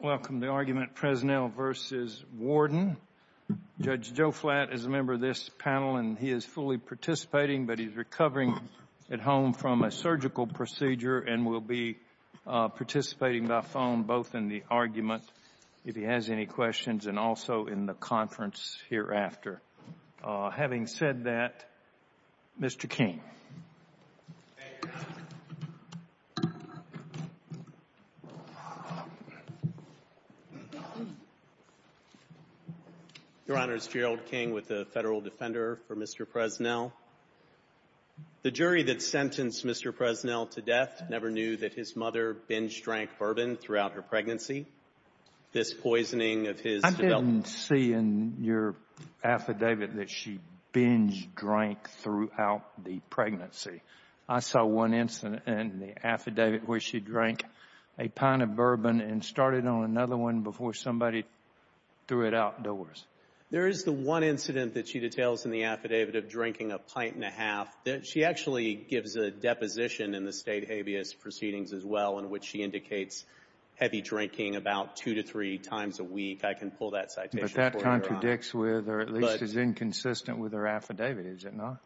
Welcome to Argument Presnell v. Warden. Judge Joe Flatt is a member of this panel and he is fully participating, but he is recovering at home from a surgical procedure and will be participating by phone both in the argument, if he has any questions, and also in the conference hereafter. Having said that, Mr. King. Thank you, Your Honor. Your Honor, it's Gerald King with the Federal Defender for Mr. Presnell. The jury that sentenced Mr. Presnell to death never knew that his mother binged drank bourbon throughout her pregnancy. I didn't see in your affidavit that she binged drank throughout the pregnancy. I saw one incident in the affidavit where she drank a pint of bourbon and started on another one before somebody threw it outdoors. There is the one incident that she details in the affidavit of drinking a pint and a half. She actually gives a deposition in the State Habeas Proceedings as well in which she indicates heavy drinking about two to three times a week. I can pull that citation for you, Your Honor. But that contradicts with or at least is inconsistent with her affidavit, is it not?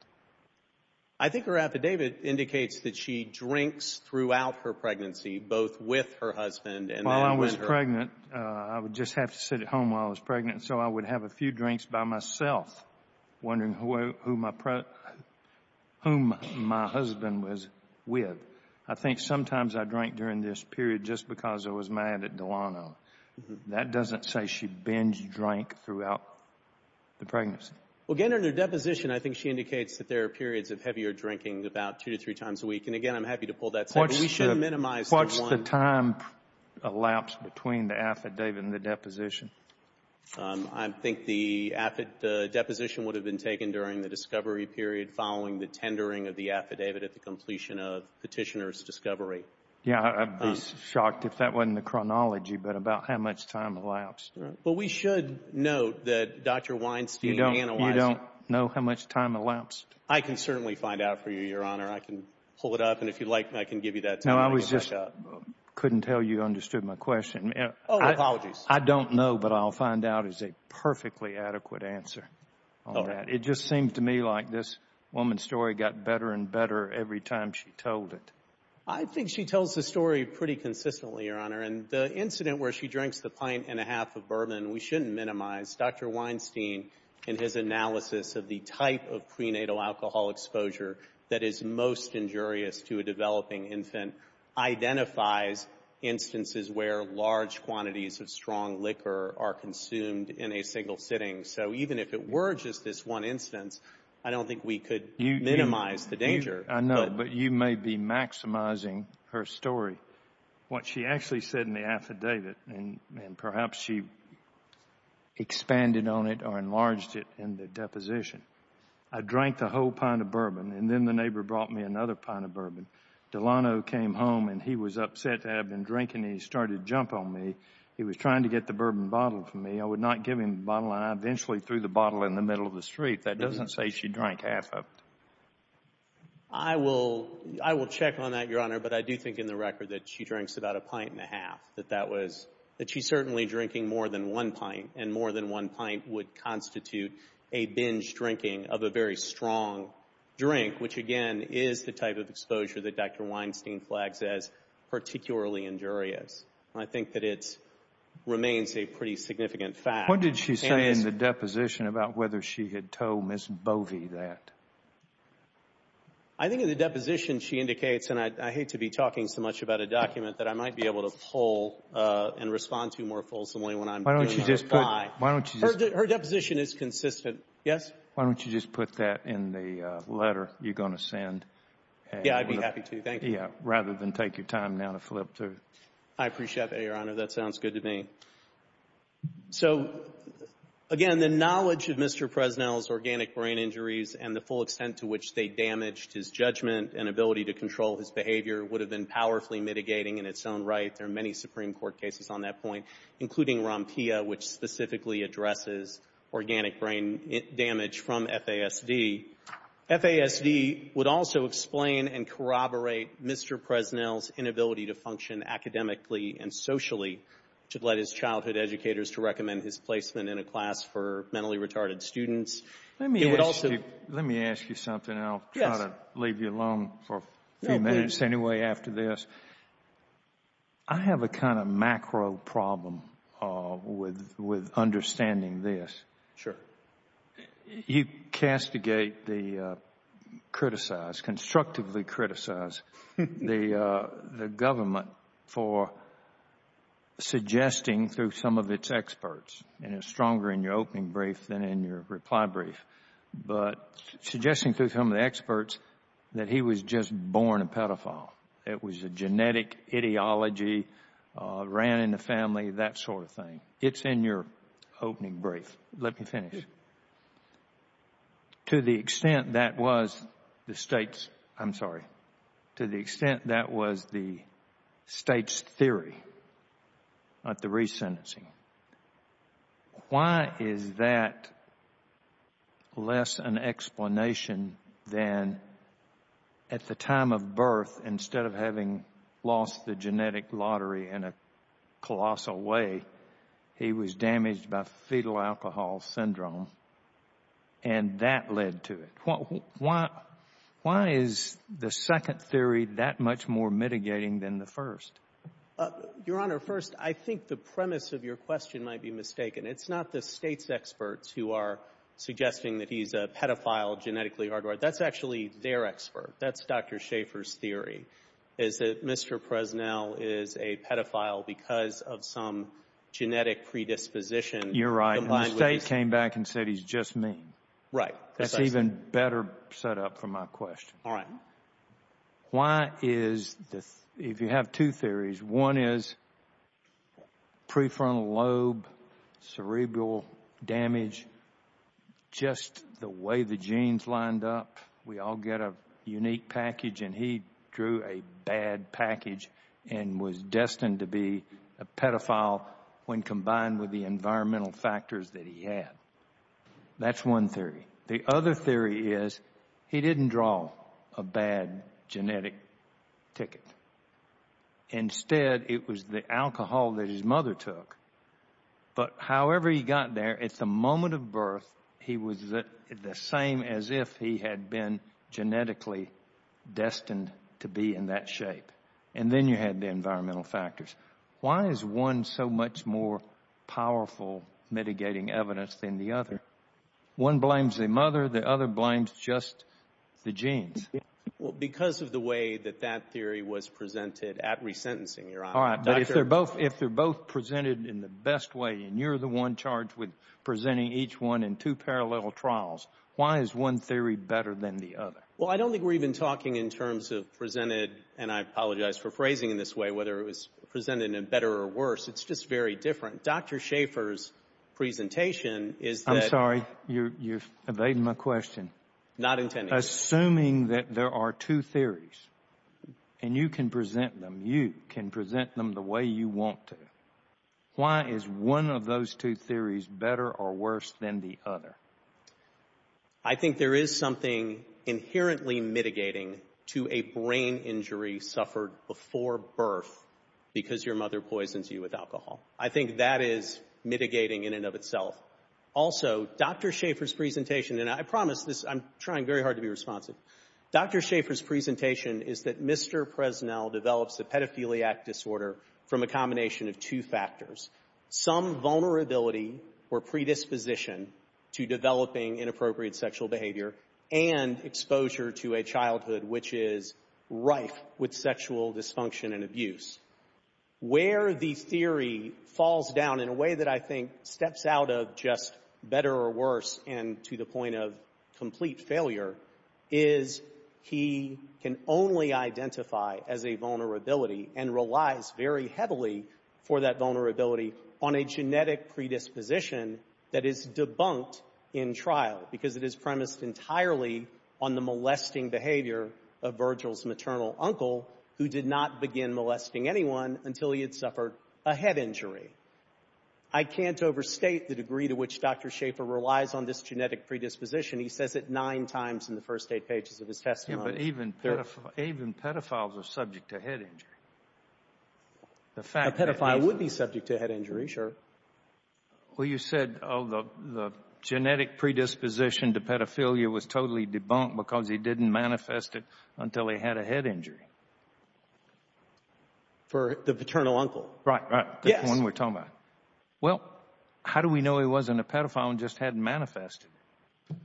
I think her affidavit indicates that she drinks throughout her pregnancy both with her husband and then with her. I would just have to sit at home while I was pregnant, so I would have a few drinks by myself wondering whom my husband was with. I think sometimes I drank during this period just because I was mad at Delano. That doesn't say she binged drank throughout the pregnancy. Well, again, in her deposition, I think she indicates that there are periods of heavier drinking about two to three times a week. And, again, I'm happy to pull that citation. What's the time elapsed between the affidavit and the deposition? I think the deposition would have been taken during the discovery period following the tendering of the affidavit at the completion of Petitioner's discovery. Yeah, I'd be shocked if that wasn't the chronology, but about how much time elapsed. Well, we should note that Dr. Weinstein analyzes it. You don't know how much time elapsed? I can certainly find out for you, Your Honor. I can pull it up, and if you'd like, I can give you that. No, I just couldn't tell you understood my question. Oh, apologies. I don't know, but I'll find out as a perfectly adequate answer on that. It just seems to me like this woman's story got better and better every time she told it. I think she tells the story pretty consistently, Your Honor. And the incident where she drinks the pint and a half of bourbon, we shouldn't minimize. Dr. Weinstein, in his analysis of the type of prenatal alcohol exposure that is most injurious to a developing infant, identifies instances where large quantities of strong liquor are consumed in a single sitting. So even if it were just this one instance, I don't think we could minimize the danger. I know, but you may be maximizing her story. What she actually said in the affidavit, and perhaps she expanded on it or enlarged it in the deposition, I drank the whole pint of bourbon, and then the neighbor brought me another pint of bourbon. Delano came home, and he was upset to have been drinking, and he started to jump on me. He was trying to get the bourbon bottle from me. I would not give him the bottle, and I eventually threw the bottle in the middle of the street. That doesn't say she drank half of it. I will check on that, Your Honor, but I do think in the record that she drinks about a pint and a half, that she's certainly drinking more than one pint, and more than one pint would constitute a binge drinking of a very strong drink, which again is the type of exposure that Dr. Weinstein flags as particularly injurious. I think that it remains a pretty significant fact. What did she say in the deposition about whether she had told Ms. Bovee that? I think in the deposition she indicates, and I hate to be talking so much about a document that I might be able to pull and respond to more fulsomely when I'm doing my reply. Her deposition is consistent. Yes? Why don't you just put that in the letter you're going to send? Yeah, I'd be happy to. Thank you. Yeah, rather than take your time now to flip through. I appreciate that, Your Honor. That sounds good to me. So, again, the knowledge of Mr. Presnell's organic brain injuries and the full extent to which they damaged his judgment and ability to control his behavior would have been powerfully mitigating in its own right. There are many Supreme Court cases on that point, including Rompia, which specifically addresses organic brain damage from FASD. FASD would also explain and corroborate Mr. Presnell's inability to function academically and socially to let his childhood educators to recommend his placement in a class for mentally retarded students. Let me ask you something, and I'll try to leave you alone for a few minutes anyway after this. I have a kind of macro problem with understanding this. Sure. You castigate, criticize, constructively criticize the government for suggesting through some of its experts, and it's stronger in your opening brief than in your reply brief, but suggesting through some of the experts that he was just born a pedophile. It was a genetic ideology, ran in the family, that sort of thing. It's in your opening brief. Let me finish. To the extent that was the State's theory at the resentencing, why is that less an explanation than at the time of birth, instead of having lost the genetic lottery in a colossal way, he was damaged by fetal alcohol syndrome, and that led to it? Why is the second theory that much more mitigating than the first? Your Honor, first, I think the premise of your question might be mistaken. It's not the State's experts who are suggesting that he's a pedophile genetically hardwired. That's actually their expert. That's Dr. Schaeffer's theory, is that Mr. Presnell is a pedophile because of some genetic predisposition. You're right, and the State came back and said he's just mean. Right. That's even better set up for my question. All right. Why is, if you have two theories, one is prefrontal lobe, cerebral damage, just the way the genes lined up, we all get a unique package, and he drew a bad package and was destined to be a pedophile when combined with the environmental factors that he had. That's one theory. The other theory is he didn't draw a bad genetic ticket. Instead, it was the alcohol that his mother took. But however he got there, at the moment of birth, he was the same as if he had been genetically destined to be in that shape, and then you had the environmental factors. Why is one so much more powerful mitigating evidence than the other? One blames the mother. The other blames just the genes. All right. But if they're both presented in the best way and you're the one charged with presenting each one in two parallel trials, why is one theory better than the other? Well, I don't think we're even talking in terms of presented, and I apologize for phrasing it this way, whether it was presented in a better or worse. It's just very different. Dr. Schaffer's presentation is that— I'm sorry. You're evading my question. Not intended. Assuming that there are two theories, and you can present them, and you can present them the way you want to, why is one of those two theories better or worse than the other? I think there is something inherently mitigating to a brain injury suffered before birth because your mother poisons you with alcohol. I think that is mitigating in and of itself. Also, Dr. Schaffer's presentation— Dr. Schaffer's presentation is that Mr. Presnell develops a pedophiliac disorder from a combination of two factors, some vulnerability or predisposition to developing inappropriate sexual behavior and exposure to a childhood which is rife with sexual dysfunction and abuse. Where the theory falls down in a way that I think steps out of just better or worse and to the point of complete failure is he can only identify as a vulnerability and relies very heavily for that vulnerability on a genetic predisposition that is debunked in trial because it is premised entirely on the molesting behavior of Virgil's maternal uncle who did not begin molesting anyone until he had suffered a head injury. I can't overstate the degree to which Dr. Schaffer relies on this genetic predisposition. He says it nine times in the first eight pages of his testimony. But even pedophiles are subject to head injury. A pedophile would be subject to a head injury, sure. Well, you said the genetic predisposition to pedophilia was totally debunked because he didn't manifest it until he had a head injury. For the paternal uncle. Right, right. That's the one we're talking about. Well, how do we know he wasn't a pedophile and just hadn't manifested it?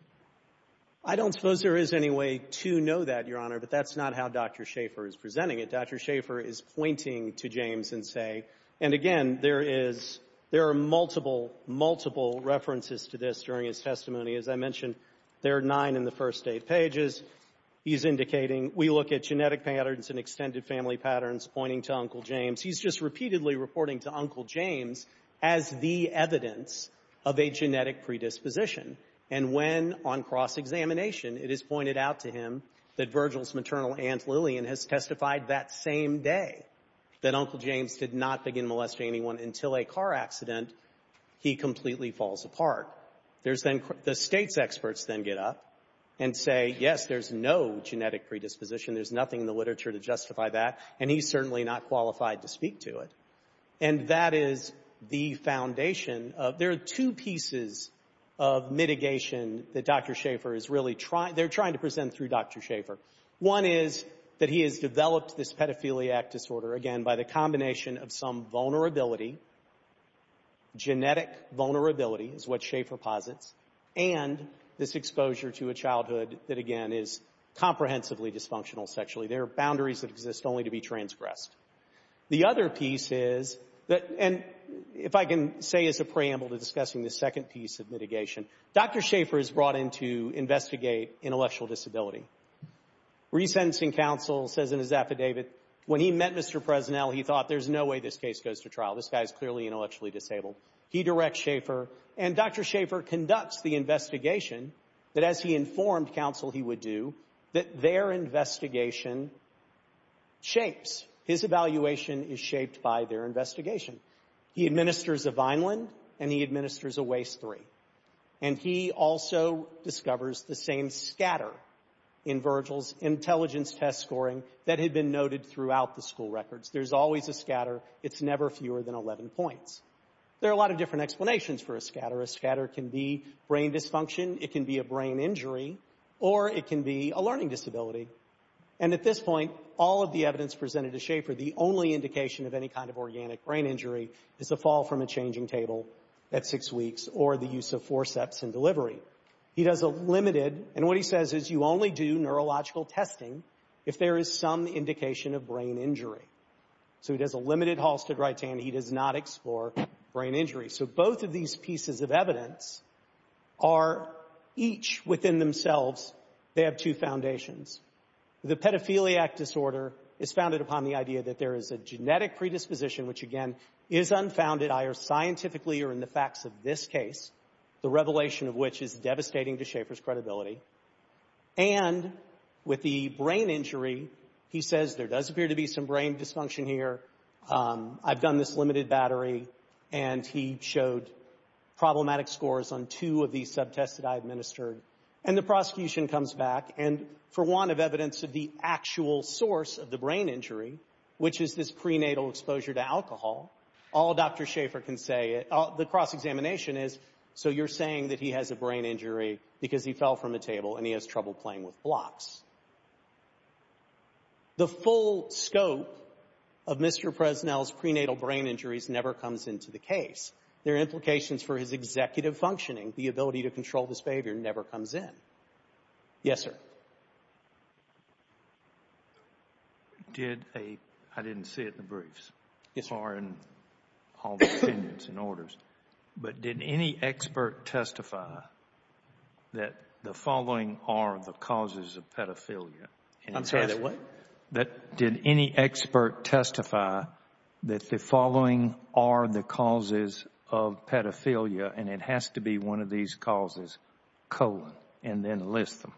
I don't suppose there is any way to know that, Your Honor, but that's not how Dr. Schaffer is presenting it. Dr. Schaffer is pointing to James and say, and again, there are multiple, multiple references to this during his testimony. As I mentioned, there are nine in the first eight pages. He's indicating we look at genetic patterns and extended family patterns, pointing to Uncle James. He's just repeatedly reporting to Uncle James as the evidence of a genetic predisposition. And when, on cross-examination, it is pointed out to him that Virgil's maternal Aunt Lillian has testified that same day that Uncle James did not begin molesting anyone until a car accident, he completely falls apart. There's then the State's experts then get up and say, yes, there's no genetic predisposition. There's nothing in the literature to justify that. And he's certainly not qualified to speak to it. And that is the foundation. There are two pieces of mitigation that Dr. Schaffer is really trying. They're trying to present through Dr. Schaffer. One is that he has developed this pedophiliac disorder, again, by the combination of some vulnerability, genetic vulnerability is what Schaffer posits, and this exposure to a childhood that, again, is comprehensively dysfunctional sexually. There are boundaries that exist only to be transgressed. The other piece is that, and if I can say as a preamble to discussing the second piece of mitigation, Dr. Schaffer is brought in to investigate intellectual disability. Resentencing counsel says in his affidavit, when he met Mr. Presnell, he thought there's no way this case goes to trial. This guy is clearly intellectually disabled. He directs Schaffer, and Dr. Schaffer conducts the investigation that, as he informed counsel he would do, that their investigation shapes. His evaluation is shaped by their investigation. He administers a Vineland, and he administers a Waste III. And he also discovers the same scatter in Virgil's intelligence test scoring that had been noted throughout the school records. There's always a scatter. It's never fewer than 11 points. There are a lot of different explanations for a scatter. A scatter can be brain dysfunction. It can be a brain injury, or it can be a learning disability. And at this point, all of the evidence presented to Schaffer, the only indication of any kind of organic brain injury is a fall from a changing table at six weeks or the use of forceps in delivery. He does a limited, and what he says is, you only do neurological testing if there is some indication of brain injury. So he does a limited Halstead-Wright-Tan. He does not explore brain injury. So both of these pieces of evidence are each within themselves. They have two foundations. The pedophiliac disorder is founded upon the idea that there is a genetic predisposition, which, again, is unfounded either scientifically or in the facts of this case, the revelation of which is devastating to Schaffer's credibility. And with the brain injury, he says there does appear to be some brain dysfunction here. I've done this limited battery, and he showed problematic scores on two of these subtests that I administered. And the prosecution comes back, and for want of evidence of the actual source of the brain injury, which is this prenatal exposure to alcohol, all Dr. Schaffer can say, the cross-examination is, so you're saying that he has a brain injury because he fell from a table and he has trouble playing with blocks. The full scope of Mr. Presnell's prenatal brain injuries never comes into the case. There are implications for his executive functioning. The ability to control this behavior never comes in. Yes, sir. Did a – I didn't see it in the briefs. Or in all the opinions and orders. But did any expert testify that the following are the causes of pedophilia? I'm sorry, what? Did any expert testify that the following are the causes of pedophilia, and it has to be one of these causes, colon, and then list them?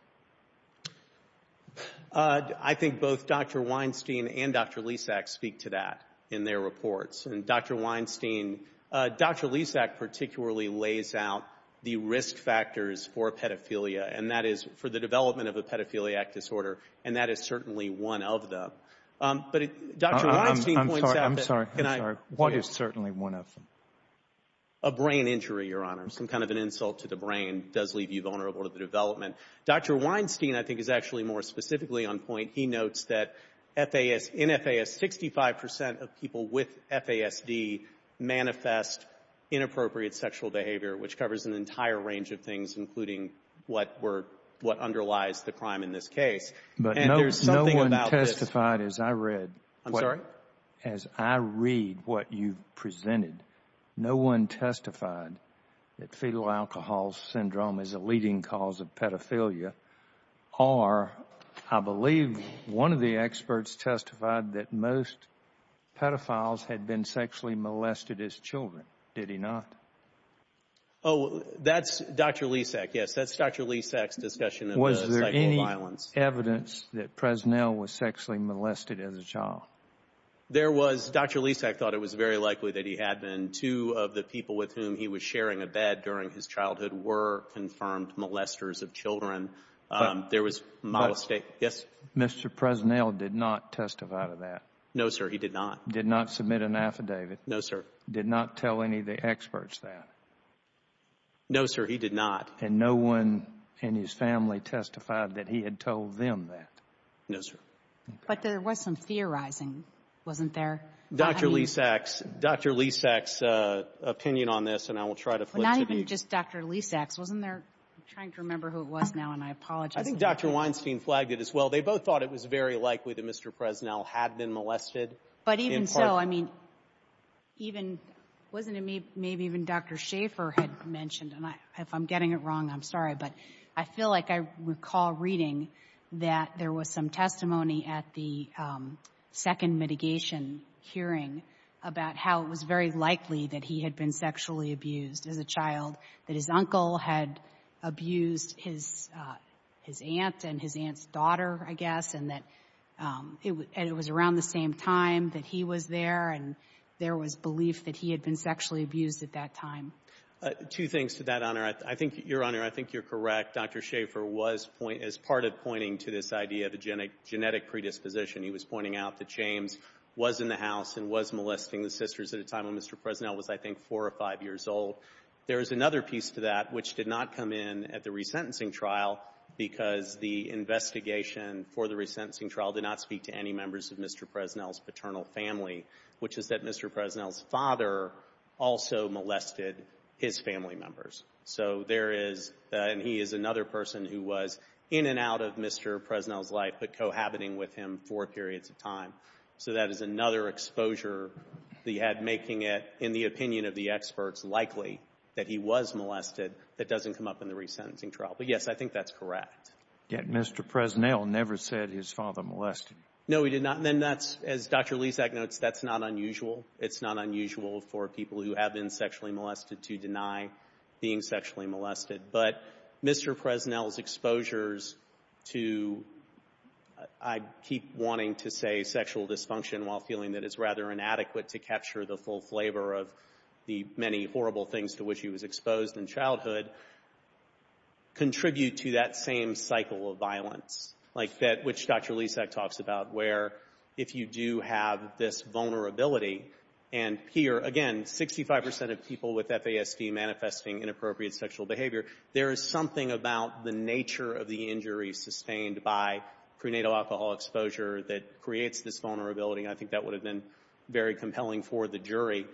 I think both Dr. Weinstein and Dr. Lisak speak to that in their reports. And Dr. Weinstein – Dr. Lisak particularly lays out the risk factors for pedophilia, and that is for the development of a pedophiliac disorder, and that is certainly one of them. But Dr. Weinstein points out that – I'm sorry, I'm sorry. What is certainly one of them? A brain injury, Your Honor. Some kind of an insult to the brain does leave you vulnerable to the development. Dr. Weinstein, I think, is actually more specifically on point. He notes that FAS – in FAS, 65 percent of people with FASD manifest inappropriate sexual behavior, which covers an entire range of things, including what were – what underlies the crime in this case. And there's something about this – But no one testified, as I read – I'm sorry? As I read what you presented, no one testified that fetal alcohol syndrome is a leading cause of pedophilia, or I believe one of the experts testified that most pedophiles had been sexually molested as children. Did he not? Oh, that's Dr. Lisak, yes. That's Dr. Lisak's discussion of the psycho violence. Was there any evidence that Presnell was sexually molested as a child? There was. Dr. Lisak thought it was very likely that he had been. And two of the people with whom he was sharing a bed during his childhood were confirmed molesters of children. There was – yes? Mr. Presnell did not testify to that. No, sir, he did not. Did not submit an affidavit. No, sir. Did not tell any of the experts that. No, sir, he did not. And no one in his family testified that he had told them that. No, sir. But there was some theorizing, wasn't there? Dr. Lisak's – Dr. Lisak's opinion on this, and I will try to flip it. Not even just Dr. Lisak's. Wasn't there – I'm trying to remember who it was now, and I apologize. I think Dr. Weinstein flagged it as well. They both thought it was very likely that Mr. Presnell had been molested. But even so, I mean, even – wasn't it maybe even Dr. Schaffer had mentioned, and if I'm getting it wrong, I'm sorry, but I feel like I recall reading that there was some testimony at the second mitigation hearing about how it was very likely that he had been sexually abused as a child, that his uncle had abused his aunt and his aunt's daughter, I guess, and that it was around the same time that he was there and there was belief that he had been sexually abused at that time. Two things to that, Honor. I think – Your Honor, I think you're correct. Dr. Schaffer was – as part of pointing to this idea of a genetic predisposition, he was pointing out that James was in the house and was molesting the sisters at a time when Mr. Presnell was, I think, four or five years old. There is another piece to that which did not come in at the resentencing trial because the investigation for the resentencing trial did not speak to any members of Mr. Presnell's paternal family, which is that Mr. Presnell's father also molested his family members. So there is – and he is another person who was in and out of Mr. Presnell's life but cohabiting with him four periods of time. So that is another exposure that he had, making it, in the opinion of the experts, likely that he was molested that doesn't come up in the resentencing trial. But, yes, I think that's correct. Yet Mr. Presnell never said his father molested him. No, he did not. Then that's, as Dr. Lisak notes, that's not unusual. It's not unusual for people who have been sexually molested to deny being sexually molested. But Mr. Presnell's exposures to, I keep wanting to say sexual dysfunction while feeling that it's rather inadequate to capture the full flavor of the many horrible things to which he was exposed in childhood, contribute to that same cycle of violence, like that which Dr. Lisak talks about, where if you do have this vulnerability and here, again, 65 percent of people with FASD manifesting inappropriate sexual behavior, there is something about the nature of the injury sustained by prenatal alcohol exposure that creates this vulnerability. I think that would have been very compelling for the jury.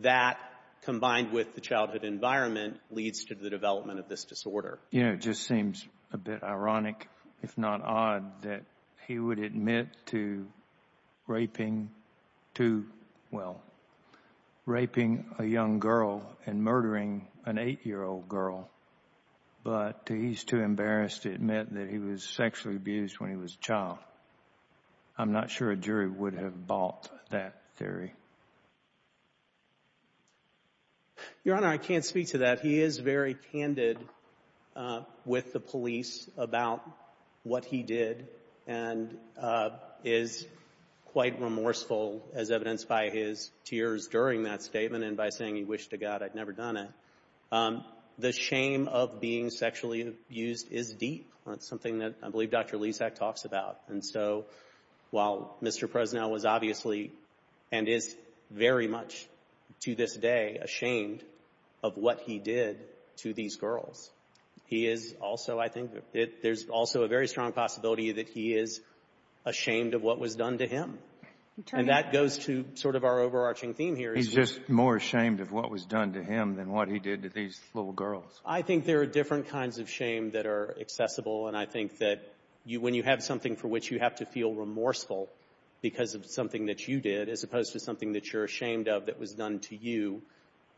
That, combined with the childhood environment, leads to the development of this disorder. You know, it just seems a bit ironic, if not odd, that he would admit to raping two, well, raping a young girl and murdering an 8-year-old girl, but he's too embarrassed to admit that he was sexually abused when he was a child. I'm not sure a jury would have bought that theory. Your Honor, I can't speak to that. But he is very candid with the police about what he did and is quite remorseful, as evidenced by his tears during that statement and by saying he wished to God I'd never done it. The shame of being sexually abused is deep. That's something that I believe Dr. Lisak talks about. And so while Mr. Presnell was obviously and is very much to this day ashamed of what he did to these girls, he is also, I think, there's also a very strong possibility that he is ashamed of what was done to him. And that goes to sort of our overarching theme here. He's just more ashamed of what was done to him than what he did to these little girls. I think there are different kinds of shame that are accessible, and I think that when you have something for which you have to feel remorseful because of something that you did, as opposed to something that you're ashamed of that was done to you,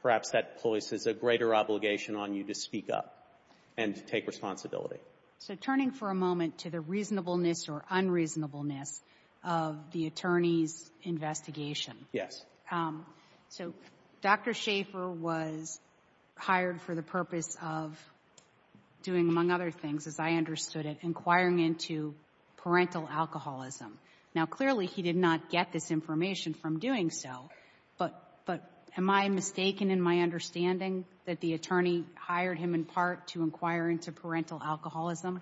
perhaps that places a greater obligation on you to speak up and to take responsibility. So turning for a moment to the reasonableness or unreasonableness of the attorney's investigation. Yes. So Dr. Schaefer was hired for the purpose of doing, among other things, as I understood it, inquiring into parental alcoholism. Now, clearly he did not get this information from doing so, but am I mistaken in my understanding that the attorney hired him in part to inquire into parental alcoholism?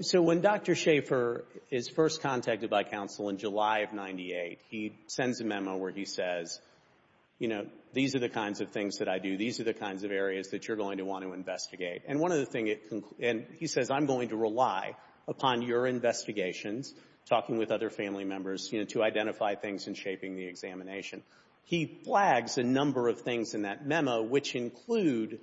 So when Dr. Schaefer is first contacted by counsel in July of 1998, he sends a memo where he says, you know, these are the kinds of things that I do. These are the kinds of areas that you're going to want to investigate. And he says, I'm going to rely upon your investigations, talking with other family members, to identify things and shaping the examination. He flags a number of things in that memo, which include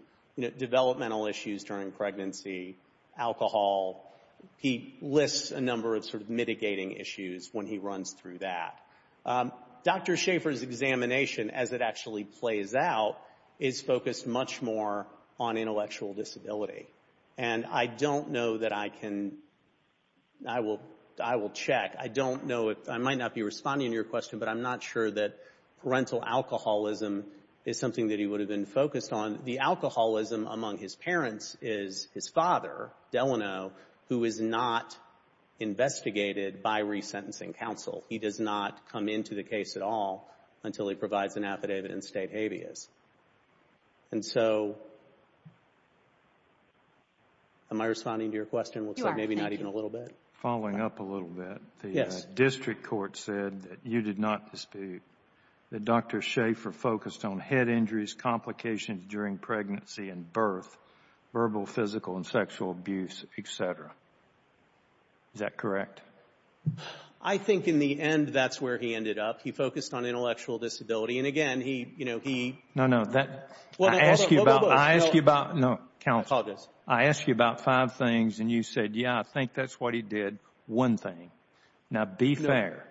developmental issues during pregnancy, alcohol. He lists a number of sort of mitigating issues when he runs through that. Dr. Schaefer's examination, as it actually plays out, is focused much more on intellectual disability. And I don't know that I can, I will check. I don't know if, I might not be responding to your question, but I'm not sure that parental alcoholism is something that he would have been focused on. The alcoholism among his parents is his father, Delano, who is not investigated by resentencing counsel. He does not come into the case at all until he provides an affidavit and state habeas. And so, am I responding to your question? Looks like maybe not even a little bit. Following up a little bit, the district court said that you did not dispute that Dr. Schaefer focused on head injuries, complications during pregnancy and birth, verbal, physical, and sexual abuse, et cetera. Is that correct? I think in the end that's where he ended up. He focused on intellectual disability. And, again, he, you know, he. No, no. I ask you about, I ask you about. No, counsel. I apologize. I ask you about five things, and you said, yeah, I think that's what he did, one thing. Now, be fair.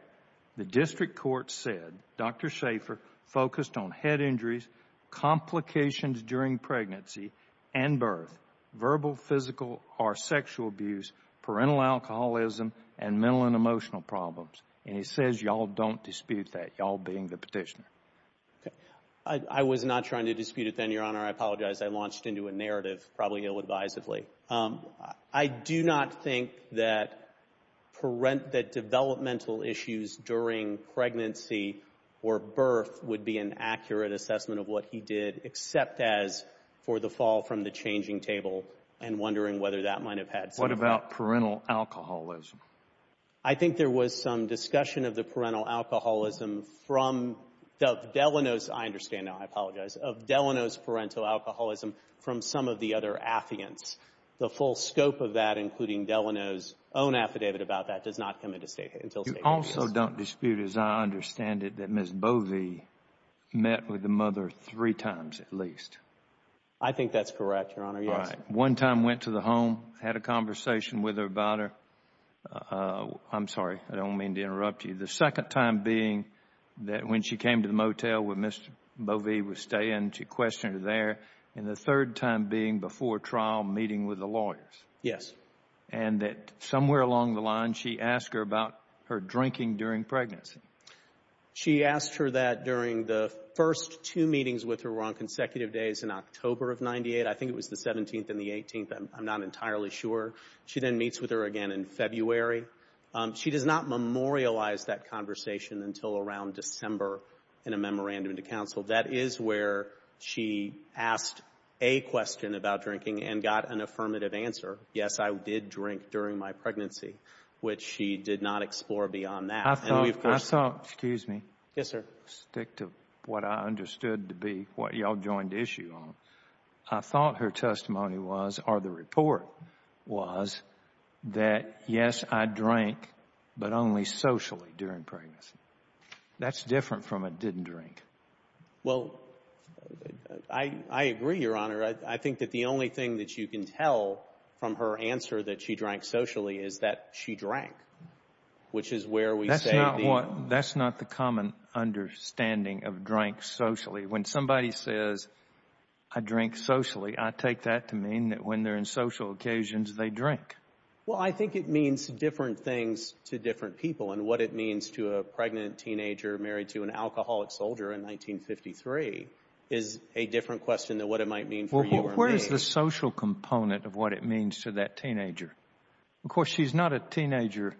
The district court said Dr. Schaefer focused on head injuries, complications during pregnancy and birth, verbal, physical, or sexual abuse, parental alcoholism, and mental and emotional problems. And he says y'all don't dispute that, y'all being the petitioner. I was not trying to dispute it then, Your Honor. I apologize. I launched into a narrative, probably ill-advisedly. I do not think that developmental issues during pregnancy or birth would be an accurate assessment of what he did, except as for the fall from the changing table and wondering whether that might have had some effect. What about parental alcoholism? I think there was some discussion of the parental alcoholism from Delano's. I understand now. I apologize. Of Delano's parental alcoholism from some of the other affiants. The full scope of that, including Delano's own affidavit about that, does not come into state until statement is made. You also don't dispute, as I understand it, that Ms. Bovee met with the mother three times at least. I think that's correct, Your Honor, yes. All right. One time went to the home, had a conversation with her about her. I'm sorry. I don't mean to interrupt you. The second time being that when she came to the motel where Mr. Bovee was staying, she questioned her there. And the third time being before trial, meeting with the lawyers. Yes. And that somewhere along the line, she asked her about her drinking during pregnancy. She asked her that during the first two meetings with her were on consecutive days in October of 1998. I think it was the 17th and the 18th. I'm not entirely sure. She then meets with her again in February. She does not memorialize that conversation until around December in a memorandum to counsel. That is where she asked a question about drinking and got an affirmative answer, yes, I did drink during my pregnancy, which she did not explore beyond that. I thought, excuse me. Yes, sir. Stick to what I understood to be what you all joined issue on. I thought her testimony was or the report was that, yes, I drank, but only socially during pregnancy. That's different from a didn't drink. Well, I agree, Your Honor. I think that the only thing that you can tell from her answer that she drank socially is that she drank, which is where we say the... That's not the common understanding of drank socially. When somebody says, I drink socially, I take that to mean that when they're in social occasions, they drink. Well, I think it means different things to different people, and what it means to a pregnant teenager married to an alcoholic soldier in 1953 is a different question than what it might mean for you or me. Well, where is the social component of what it means to that teenager? Of course, she's not a teenager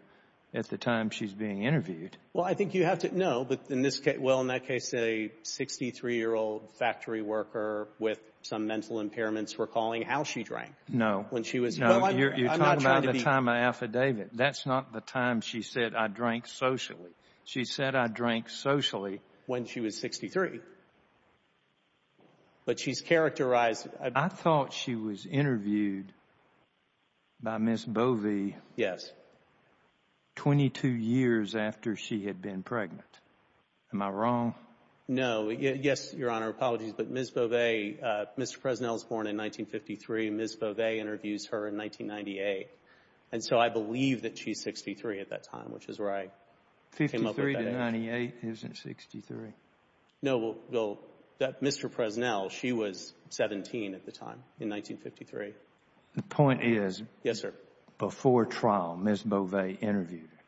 at the time she's being interviewed. Well, I think you have to... No, but in this case... Well, in that case, a 63-year-old factory worker with some mental impairments recalling how she drank. No. When she was... No, you're talking about the time of affidavit. That's not the time she said, I drank socially. She said, I drank socially. When she was 63. But she's characterized... I thought she was interviewed by Ms. Bovee. Yes. 22 years after she had been pregnant. Am I wrong? No. Yes, Your Honor. Apologies. But Ms. Bovee, Mr. Presnell was born in 1953. Ms. Bovee interviews her in 1998. And so I believe that she's 63 at that time, which is where I came up with that age. 53 to 98 isn't 63. No, well, Mr. Presnell, she was 17 at the time, in 1953. The point is... Yes, sir. Before trial, Ms. Bovee interviewed her.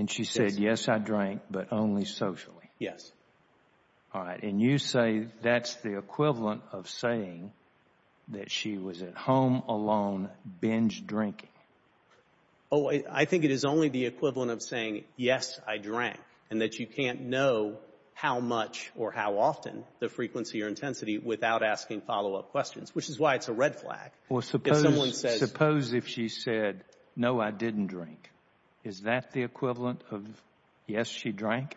And she said, yes, I drank, but only socially. Yes. All right. And you say that's the equivalent of saying that she was at home alone binge drinking. Oh, I think it is only the equivalent of saying, yes, I drank, and that you can't know how much or how often, the frequency or intensity, without asking follow-up questions, which is why it's a red flag. Well, suppose... If someone says... Suppose if she said, no, I didn't drink. Is that the equivalent of, yes, she drank?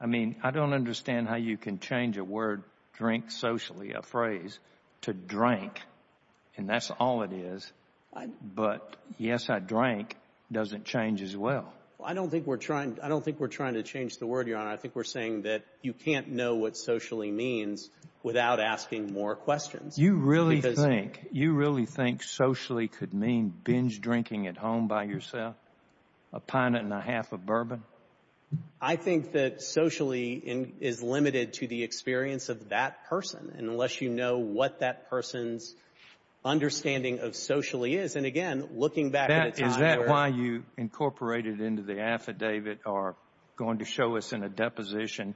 I mean, I don't understand how you can change a word, drink socially, a phrase, to drank. And that's all it is. But yes, I drank doesn't change as well. I don't think we're trying... I don't think we're trying to change the word, Your Honor. I think we're saying that you can't know what socially means without asking more questions. You really think... Because... You really think socially could mean binge drinking at home by yourself, a pint and a half of bourbon? I think that socially is limited to the experience of that person, unless you know what that person's understanding of socially is. And, again, looking back at a time where... Is that why you incorporated into the affidavit or are going to show us in a deposition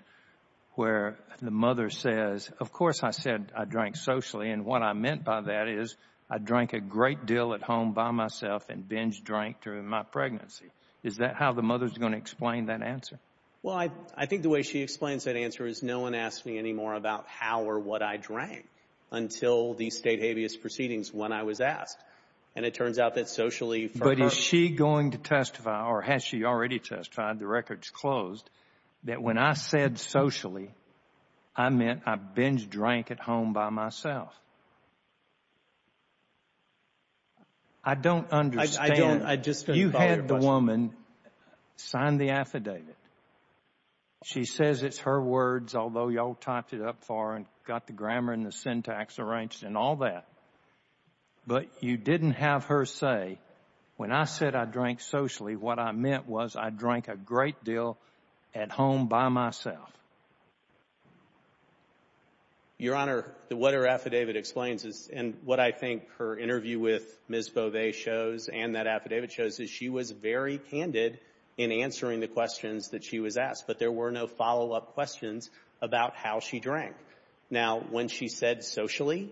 where the mother says, of course I said I drank socially, and what I meant by that is I drank a great deal at home by myself and binge drank during my pregnancy. Is that how the mother's going to explain that answer? Well, I think the way she explains that answer is no one asks me anymore about how or what I drank until the state habeas proceedings when I was asked. And it turns out that socially for her... But is she going to testify, or has she already testified, the record's closed, that when I said socially, I meant I binge drank at home by myself? I don't understand... I just... You had the woman sign the affidavit. She says it's her words, although y'all typed it up far and got the grammar and the syntax arranged and all that. But you didn't have her say, when I said I drank socially, what I meant was I drank a great deal at home by myself. Your Honor, what her affidavit explains is, and what I think her interview with Ms. Beauvais shows and that affidavit shows, is she was very candid in answering the questions that she was asked, but there were no follow-up questions about how she drank. Now, when she said socially,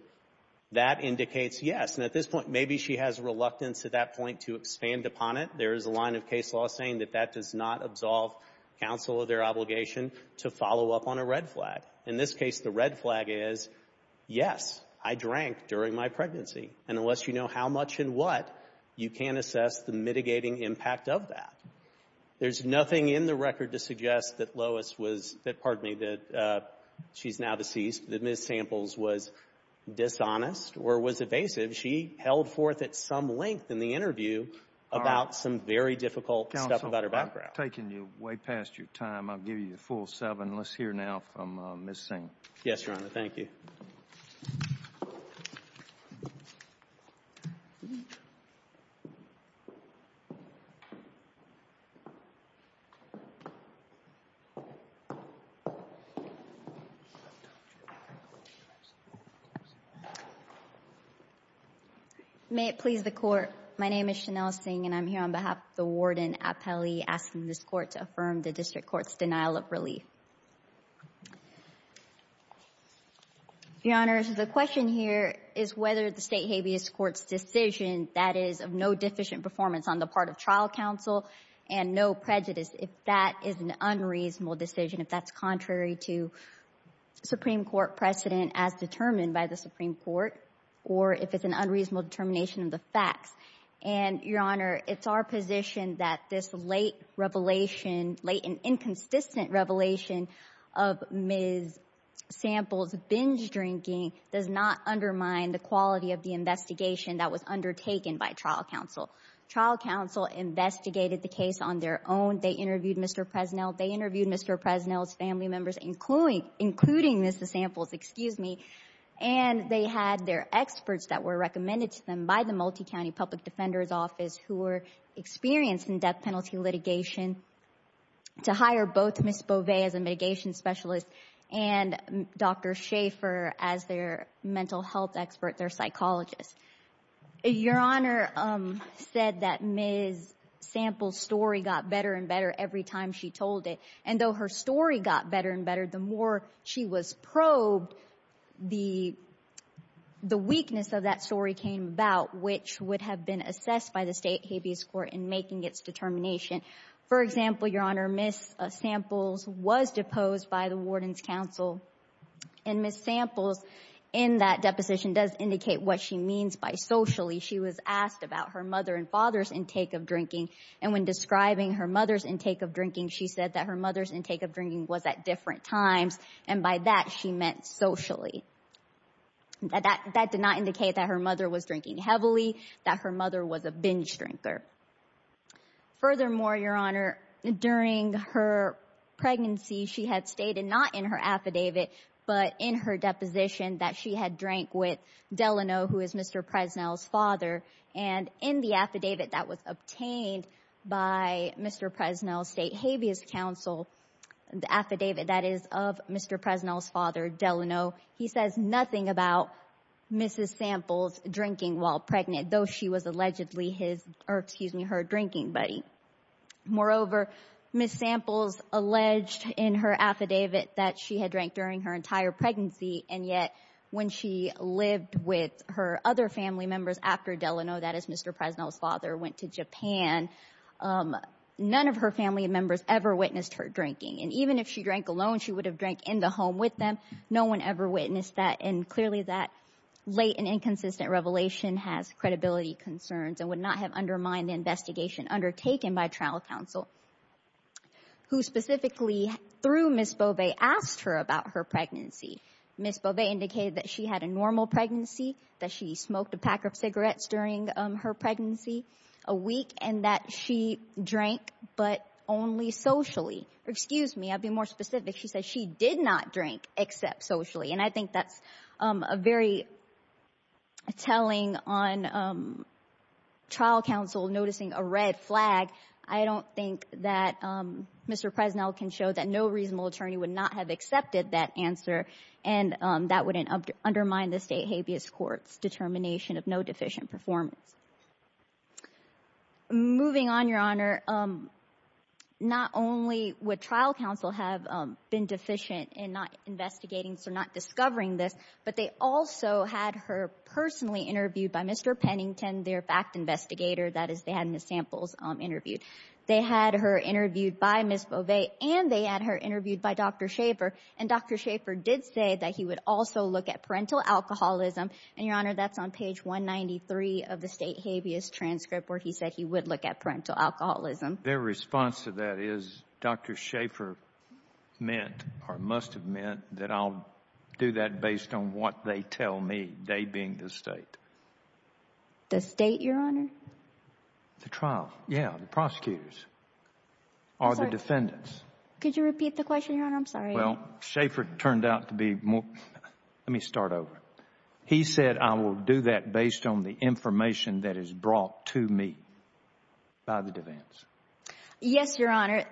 that indicates yes. And at this point, maybe she has reluctance at that point to expand upon it. There is a line of case law saying that that does not absolve counsel of their obligation to follow up on a red flag. In this case, the red flag is, yes, I drank during my pregnancy. And unless you know how much and what, you can't assess the mitigating impact of that. There's nothing in the record to suggest that Lois was — that, pardon me, that she's now deceased, that Ms. Samples was dishonest or was evasive. She held forth at some length in the interview about some very difficult stuff about her background. Counsel, I'm taking you way past your time. I'll give you the full seven. Let's hear now from Ms. Singh. Yes, Your Honor. Thank you. Thank you. May it please the Court, my name is Chanel Singh, and I'm here on behalf of the warden appellee asking this Court to affirm the district court's denial of relief. Your Honor, the question here is whether the state habeas court's decision, that is, of no deficient performance on the part of trial counsel and no prejudice, if that is an unreasonable decision, if that's contrary to Supreme Court precedent as determined by the Supreme Court, or if it's an unreasonable determination of the facts. And, Your Honor, it's our position that this late revelation, late and inconsistent revelation of Ms. Samples' binge drinking does not undermine the quality of the investigation that was undertaken by trial counsel. Trial counsel investigated the case on their own. They interviewed Mr. Presnell. They interviewed Mr. Presnell's family members, including Ms. Samples, excuse me, and they had their experts that were recommended to them by the Multicounty Public Defender's Office who were experienced in death penalty litigation to hire both Ms. Bovee as a mitigation specialist and Dr. Schaefer as their mental health expert, their psychologist. Your Honor said that Ms. Samples' story got better and better every time she told it, and though her story got better and better, the more she was probed, the weakness of that story came about, which would have been assessed by the state habeas court in making its determination. For example, Your Honor, Ms. Samples was deposed by the warden's counsel, and Ms. Samples in that deposition does indicate what she means by socially. She was asked about her mother and father's intake of drinking, and when describing her mother's intake of drinking, she said that her mother's intake of drinking was at different times, and by that, she meant socially. That did not indicate that her mother was drinking heavily, that her mother was a binge drinker. Furthermore, Your Honor, during her pregnancy, she had stated not in her affidavit, but in her deposition that she had drank with Delano, who is Mr. Presnell's father, and in the affidavit that was obtained by Mr. Presnell's state habeas counsel, the affidavit that is of Mr. Presnell's father, Delano, he says nothing about Ms. Samples drinking while pregnant, though she was allegedly his, or excuse me, her drinking buddy. Moreover, Ms. Samples alleged in her affidavit that she had drank during her entire pregnancy, and yet when she lived with her other family members after Delano, that is Mr. Presnell's father, went to Japan, none of her family members ever witnessed her drinking, and even if she drank alone, she would have drank in the home with them. No one ever witnessed that, and clearly that late and inconsistent revelation has credibility concerns and would not have undermined the investigation undertaken by trial counsel, who specifically, through Ms. Beauvais, asked her about her pregnancy. Ms. Beauvais indicated that she had a normal pregnancy, that she smoked a pack of cigarettes during her pregnancy a week, and that she drank but only socially. Excuse me, I'd be more specific. She said she did not drink except socially, and I think that's a very telling on trial counsel noticing a red flag. I don't think that Mr. Presnell can show that no reasonable attorney would not have accepted that answer, and that wouldn't undermine the State habeas court's determination of no deficient performance. Moving on, Your Honor, not only would trial counsel have been deficient in not investigating, so not discovering this, but they also had her personally interviewed by Mr. Pennington, their fact investigator. That is, they had Ms. Samples interviewed. They had her interviewed by Ms. Beauvais, and they had her interviewed by Dr. Schaffer, and Dr. Schaffer did say that he would also look at parental alcoholism, and, Your Honor, that's on page 193 of the State habeas transcript where he said he would look at parental alcoholism. Their response to that is Dr. Schaffer meant or must have meant that I'll do that based on what they tell me, they being the State. The State, Your Honor? The trial. Yeah, the prosecutors or the defendants. Could you repeat the question, Your Honor? I'm sorry. Well, Schaffer turned out to be more, let me start over. He said I will do that based on the information that is brought to me by the defense. Yes, Your Honor.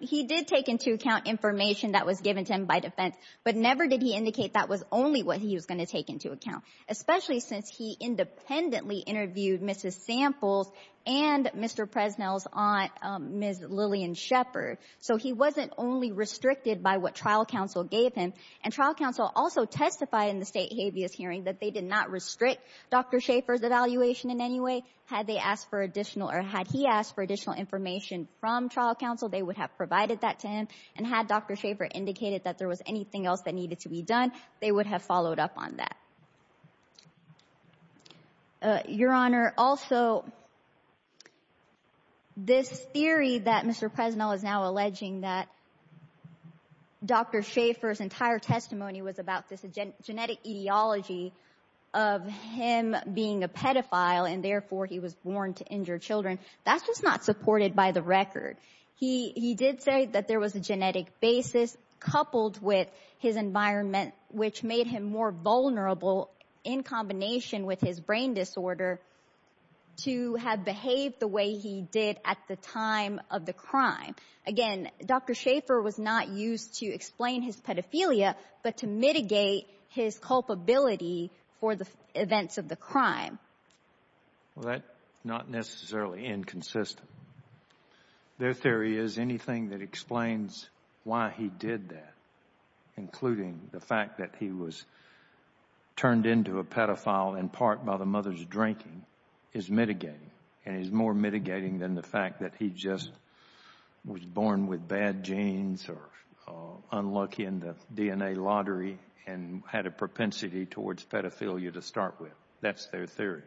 He did take into account information that was given to him by defense, but never did he indicate that was only what he was going to take into account, especially since he independently interviewed Mrs. Samples and Mr. Presnell's aunt, Ms. Lillian Shepherd. So he wasn't only restricted by what trial counsel gave him, and trial counsel also testified in the State habeas hearing that they did not restrict Dr. Schaffer's evaluation in any way. Had they asked for additional or had he asked for additional information from trial counsel, they would have provided that to him, and had Dr. Schaffer indicated that there was anything else that needed to be done, they would have followed up on that. Your Honor, also, this theory that Mr. Presnell is now alleging that Dr. Schaffer's entire testimony was about this genetic etiology of him being a pedophile and therefore he was born to injured children, that's just not supported by the record. He did say that there was a genetic basis coupled with his environment, which made him more vulnerable in combination with his brain disorder, to have behaved the way he did at the time of the crime. Again, Dr. Schaffer was not used to explain his pedophilia, but to mitigate his culpability for the events of the crime. Well, that's not necessarily inconsistent. Their theory is anything that explains why he did that, including the fact that he was turned into a pedophile in part by the mother's drinking, is mitigating, and is more mitigating than the fact that he just was born with bad genes or unlucky in the DNA lottery and had a propensity towards pedophilia to start with. That's their theory.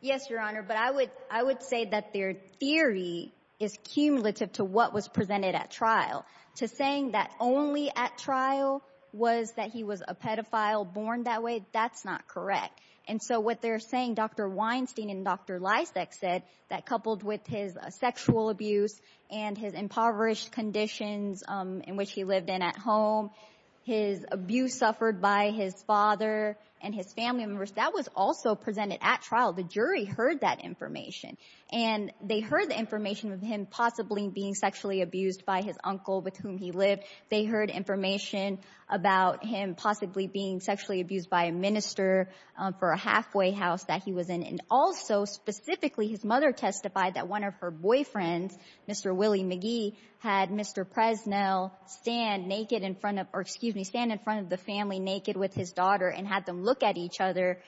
Yes, Your Honor, but I would say that their theory is cumulative to what was presented at trial. To saying that only at trial was that he was a pedophile born that way, that's not correct. And so what they're saying, Dr. Weinstein and Dr. Lysak said, that coupled with his sexual abuse and his impoverished conditions in which he lived in at home, his abuse suffered by his father and his family members, that was also presented at trial. The jury heard that information. And they heard the information of him possibly being sexually abused by his uncle with whom he lived. They heard information about him possibly being sexually abused by a minister for a halfway house that he was in. And also, specifically, his mother testified that one of her boyfriends, Mr. Willie McGee, had Mr. Presnell stand naked in front of, or excuse me, stand in front of the family naked with his daughter and had them look at each other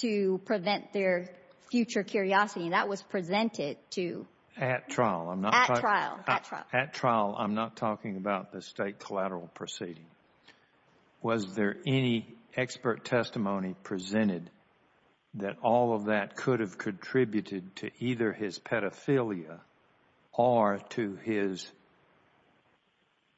to prevent their future curiosity. And that was presented to? At trial. At trial. At trial. At trial, I'm not talking about the state collateral proceeding. Was there any expert testimony presented that all of that could have contributed to either his pedophilia or to his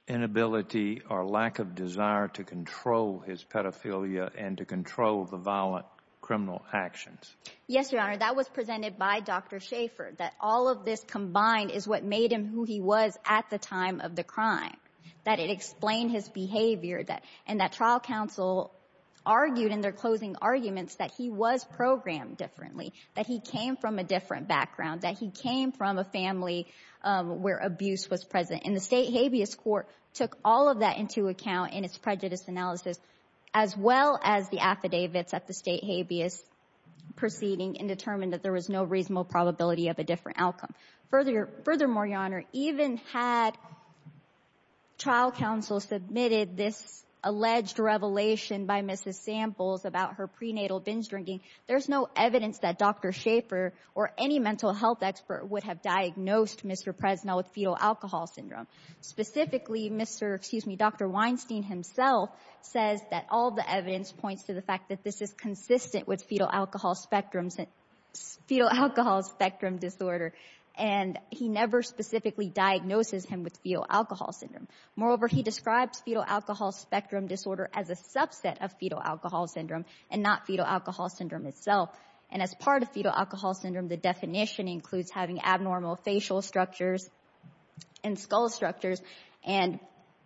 inability or lack of desire to control his pedophilia and to control the violent criminal actions? Yes, Your Honor. That was presented by Dr. Schaffer, that all of this combined is what made him who he was at the time of the crime, that it explained his behavior and that trial counsel argued in their closing arguments that he was programmed differently, that he came from a different background, that he came from a family where abuse was present. And the State Habeas Court took all of that into account in its prejudice analysis, as well as the affidavits at the State Habeas proceeding and determined that there was no reasonable probability of a different outcome. Furthermore, Your Honor, even had trial counsel submitted this alleged revelation by Mrs. Samples about her prenatal binge drinking, there's no evidence that Dr. Schaffer or any mental health expert would have diagnosed Mr. Presnell with fetal alcohol syndrome. Specifically, Dr. Weinstein himself says that all the evidence points to the fact that this is consistent with fetal alcohol spectrum disorder. And he never specifically diagnoses him with fetal alcohol syndrome. Moreover, he describes fetal alcohol spectrum disorder as a subset of fetal alcohol syndrome and not fetal alcohol syndrome itself. And as part of fetal alcohol syndrome, the definition includes having abnormal facial structures and skull structures. And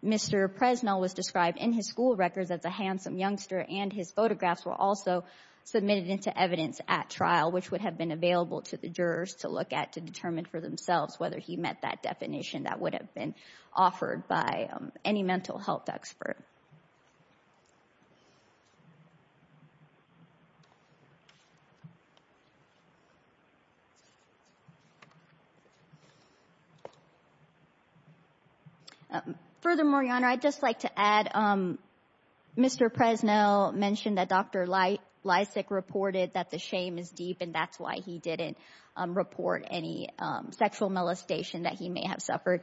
Mr. Presnell was described in his school records as a handsome youngster, and his photographs were also submitted into evidence at trial, which would have been available to the jurors to look at to determine for themselves whether he met that definition that would have been offered by any mental health expert. Furthermore, Your Honor, I'd just like to add, Mr. Presnell mentioned that Dr. Lysak reported that the shame is deep, and that's why he didn't report any sexual molestation that he may have suffered.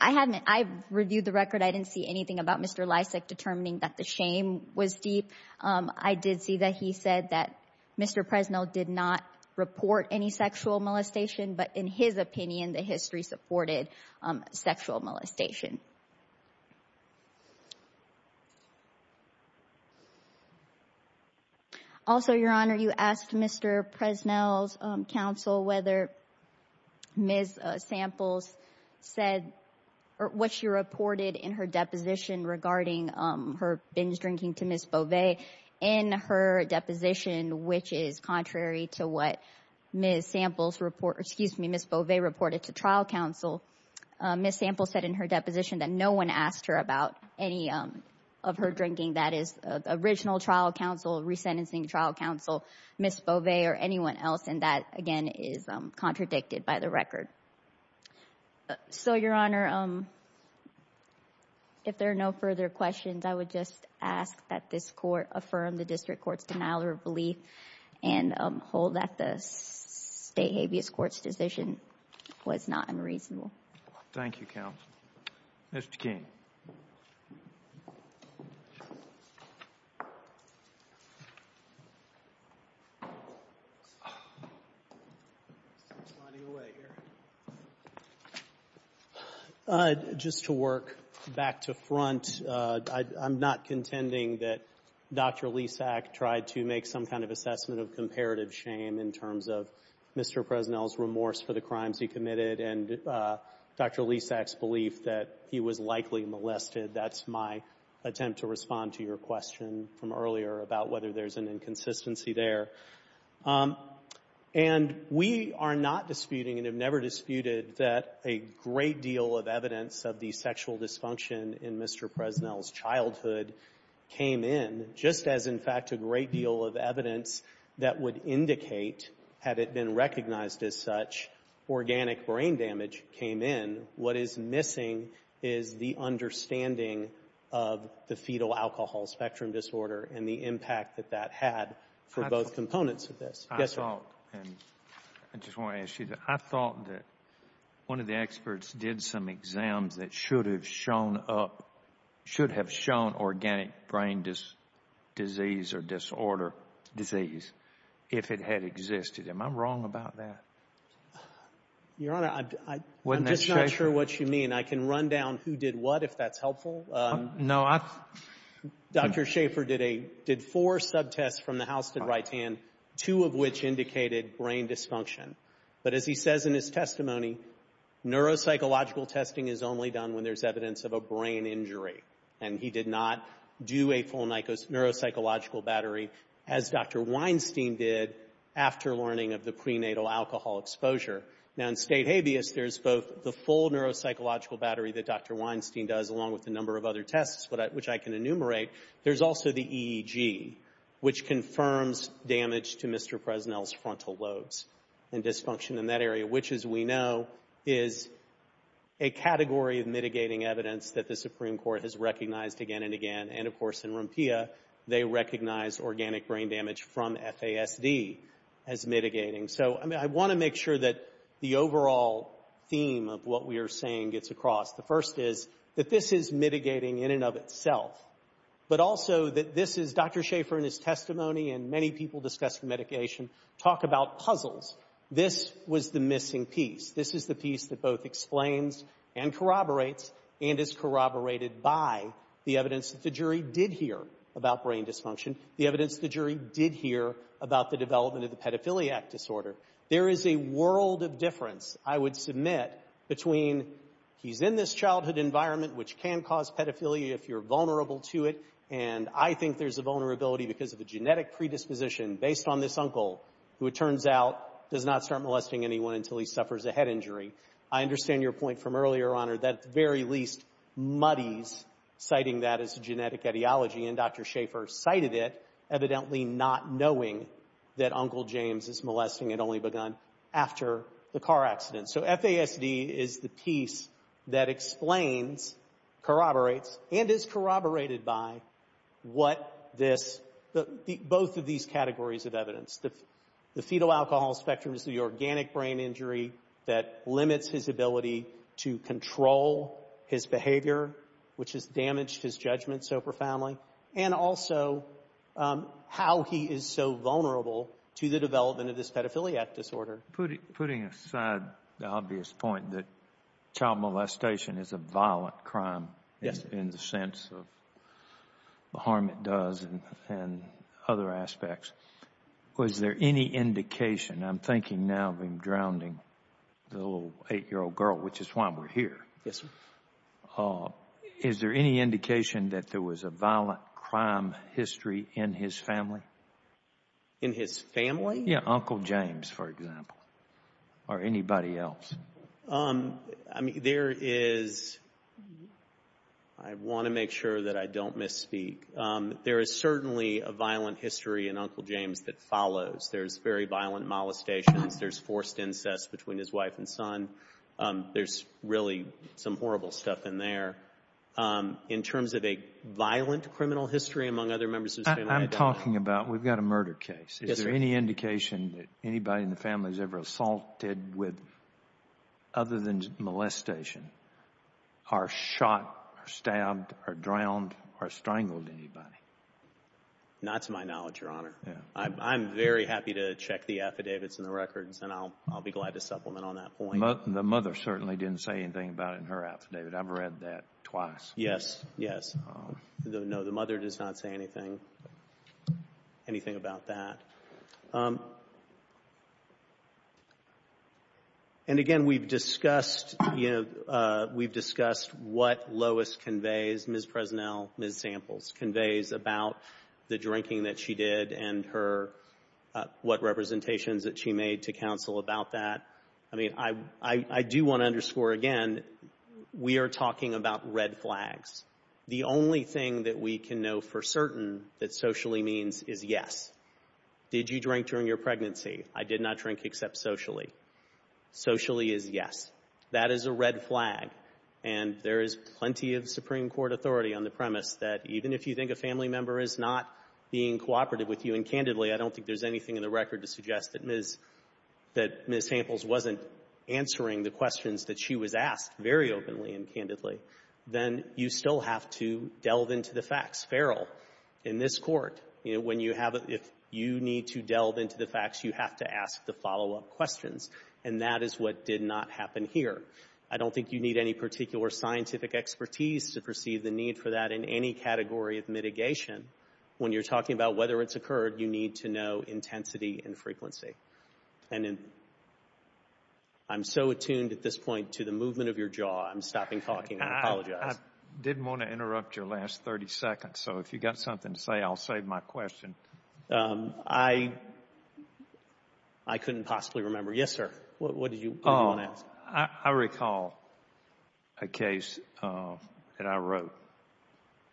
I reviewed the record. I didn't see anything about Mr. Lysak determining that the shame was deep. I did see that he said that Mr. Presnell did not report any sexual molestation, but in his opinion, the history supported sexual molestation. Thank you. Also, Your Honor, you asked Mr. Presnell's counsel whether Ms. Samples said, or what she reported in her deposition regarding her binge drinking to Ms. Beauvais. In her deposition, which is contrary to what Ms. Samples, excuse me, Ms. Beauvais reported to trial counsel, Ms. Samples said in her deposition that no one asked her about any of her drinking. That is original trial counsel, resentencing trial counsel, Ms. Beauvais, or anyone else, and that, again, is contradicted by the record. So, Your Honor, if there are no further questions, I would just ask that this court affirm the district court's denial of relief and hold that the state habeas court's decision was not unreasonable. Thank you, counsel. Mr. King. Just to work back to front, I'm not contending that Dr. Lesak tried to make some kind of assessment of comparative shame in terms of Mr. Presnell's remorse for the crimes he committed and Dr. Lesak's belief that he was likely to be molested. That's my attempt to respond to your question from earlier about whether there's an inconsistency there. And we are not disputing and have never disputed that a great deal of evidence of the sexual dysfunction in Mr. Presnell's childhood came in, just as, in fact, a great deal of evidence that would indicate, had it been recognized as such, organic brain damage came in. What is missing is the understanding of the fetal alcohol spectrum disorder and the impact that that had for both components of this. Yes, sir. I thought, and I just want to ask you, I thought that one of the experts did some exams that should have shown up, should have shown organic brain disease or disorder, disease, if it had existed. Am I wrong about that? Your Honor, I'm just not sure. I'm not sure what you mean. I can run down who did what, if that's helpful. No, I... Dr. Schaefer did a, did four subtests from the house to the right hand, two of which indicated brain dysfunction. But as he says in his testimony, neuropsychological testing is only done when there's evidence of a brain injury. And he did not do a full neuropsychological battery, as Dr. Weinstein did, after learning of the prenatal alcohol exposure. Now, in state habeas, there's both the full neuropsychological battery that Dr. Weinstein does, along with a number of other tests, which I can enumerate. There's also the EEG, which confirms damage to Mr. Presnell's frontal lobes and dysfunction in that area, which, as we know, is a category of mitigating evidence that the Supreme Court has recognized again and again. And, of course, in Rumpia, they recognize organic brain damage from FASD as mitigating. So, I mean, I want to make sure that the overall theme of what we are saying gets across. The first is that this is mitigating in and of itself, but also that this is, Dr. Schaefer, in his testimony, and many people discussed the medication, talk about puzzles. This was the missing piece. This is the piece that both explains and corroborates and is corroborated by the evidence that the jury did hear about brain dysfunction, the evidence the jury did hear about the development of the pedophiliac disorder. There is a world of difference, I would submit, between he's in this childhood environment, which can cause pedophilia if you're vulnerable to it, and I think there's a vulnerability because of a genetic predisposition based on this uncle, who, it turns out, does not start molesting anyone until he suffers a head injury. I understand your point from earlier, Honor, that at the very least muddies citing that as genetic ideology, and Dr. Schaefer cited it, evidently not knowing that Uncle James is molesting and only begun after the car accident. So, FASD is the piece that explains, corroborates, and is corroborated by what this, both of these categories of evidence. The fetal alcohol spectrum is the organic brain injury that limits his ability to control his behavior, which has damaged his judgment so profoundly, and also how he is so vulnerable to the development of this pedophiliac disorder. Putting aside the obvious point that child molestation is a violent crime in the sense of the harm it does and other aspects, was there any indication, I'm thinking now of him drowning the little 8-year-old girl, which is why we're here, is there any indication that there was a violent crime history in his family? In his family? Yeah, Uncle James, for example, or anybody else. I mean, there is, I want to make sure that I don't misspeak, there is certainly a violent history in Uncle James that follows. There's very violent molestations, there's forced incest between his wife and son, there's really some horrible stuff in there. In terms of a violent criminal history among other members of his family, I don't know. I'm talking about, we've got a murder case. Yes, sir. Is there any indication that anybody in the family has ever assaulted with, other than molestation, are shot or stabbed or drowned or strangled anybody? Not to my knowledge, Your Honor. I'm very happy to check the affidavits and the records, and I'll be glad to supplement on that point. The mother certainly didn't say anything about it in her affidavit. I've read that twice. Yes, yes. No, the mother does not say anything about that. And again, we've discussed what Lois conveys, Ms. Presnell, Ms. Samples, conveys about the drinking that she did and what representations that she made to counsel about that. I mean, I do want to underscore again, we are talking about red flags. The only thing that we can know for certain that socially means is yes. Did you drink during your pregnancy? I did not drink except socially. Socially is yes. That is a red flag. And there is plenty of Supreme Court authority on the premise that even if you think a family member is not being cooperative with you, and candidly, I don't think there's anything in the record to suggest that Ms. — that Ms. Samples wasn't answering the questions that she was asked very openly and candidly, then you still have to delve into the facts. Feral in this Court, you know, when you have a — if you need to delve into the facts, you have to ask the follow-up questions. And that is what did not happen here. I don't think you need any particular scientific expertise to perceive the need for that in any category of mitigation. When you're talking about whether it's occurred, you need to know intensity and frequency. And I'm so attuned at this point to the movement of your jaw, I'm stopping talking and apologize. I didn't want to interrupt your last 30 seconds. So if you've got something to say, I'll save my question. I couldn't possibly remember. Yes, sir. What did you want to ask? I recall a case that I wrote.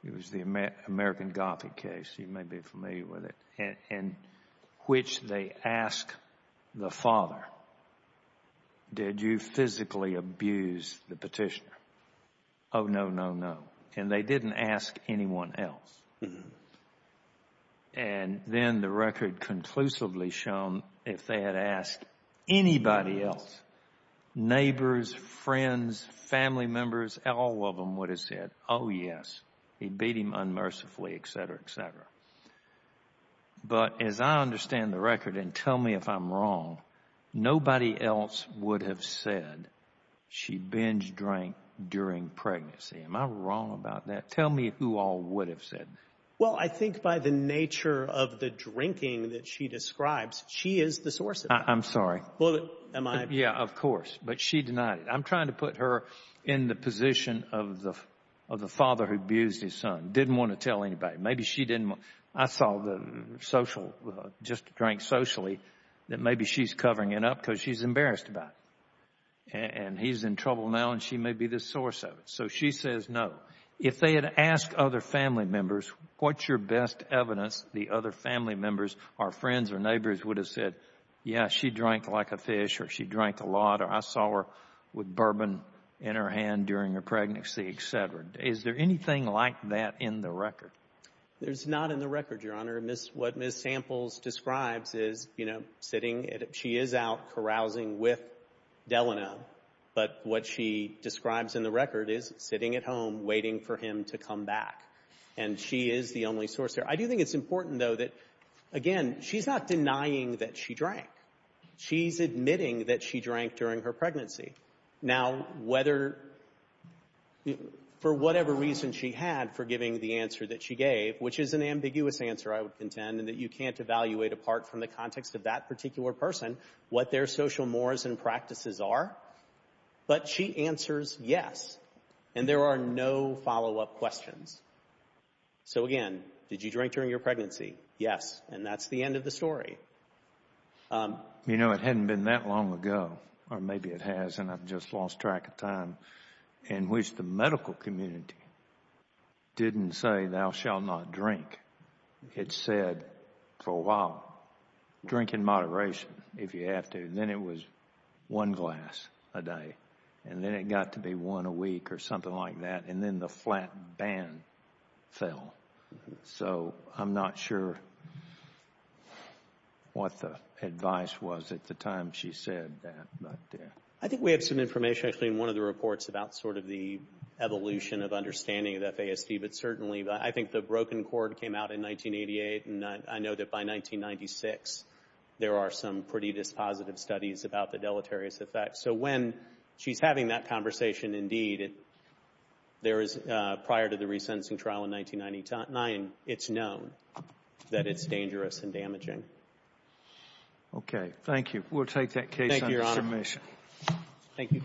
It was the American Gothic case. You may be familiar with it, in which they ask the father, did you physically abuse the petitioner? Oh, no, no, no. And they didn't ask anyone else. And then the record conclusively shown, if they had asked anybody else, neighbors, friends, family members, all of them would have said, oh, yes, he beat him unmercifully, etc., etc. But as I understand the record, and tell me if I'm wrong, nobody else would have said she binge drank during pregnancy. Am I wrong about that? Tell me who all would have said that. Well, I think by the nature of the drinking that she describes, she is the source of it. I'm sorry. Am I? Yeah, of course. But she denied it. I'm trying to put her in the position of the father who abused his son. Didn't want to tell anybody. Maybe she didn't want to. I saw the social, just drank socially, that maybe she's covering it up because she's embarrassed about it. And he's in trouble now, and she may be the source of it. So she says no. If they had asked other family members, what's your best evidence, the other family members or friends or neighbors would have said, yeah, she drank like a fish or she drank a lot or I saw her with bourbon in her hand during her pregnancy, etc. Is there anything like that in the record? It's not in the record, Your Honor. What Ms. Samples describes is, you know, sitting, she is out carousing with Delano, but what she describes in the record is sitting at home waiting for him to come back. And she is the only source there. I do think it's important, though, that, again, she's not denying that she drank. She's admitting that she drank during her pregnancy. Now, whether, for whatever reason she had for giving the answer that she gave, which is an ambiguous answer, I would contend, and that you can't evaluate apart from the context of that particular person what their social mores and practices are. But she answers yes, and there are no follow-up questions. So, again, did you drink during your pregnancy? Yes. And that's the end of the story. You know, it hadn't been that long ago, or maybe it has, and I've just lost track of time, in which the medical community didn't say thou shall not drink. It said for a while, drink in moderation if you have to, and then it was one glass a day, and then it got to be one a week or something like that, and then the flat ban fell. So I'm not sure what the advice was at the time she said that. I think we have some information, actually, in one of the reports about sort of the evolution of understanding of FASD, but certainly I think the broken cord came out in 1988, and I know that by 1996 there are some pretty dispositive studies about the deleterious effect. So when she's having that conversation, indeed, there is prior to the resentencing trial in 1999, it's known that it's dangerous and damaging. Okay. Thank you. We'll take that case under submission. Thank you, Your Honor. Thank you.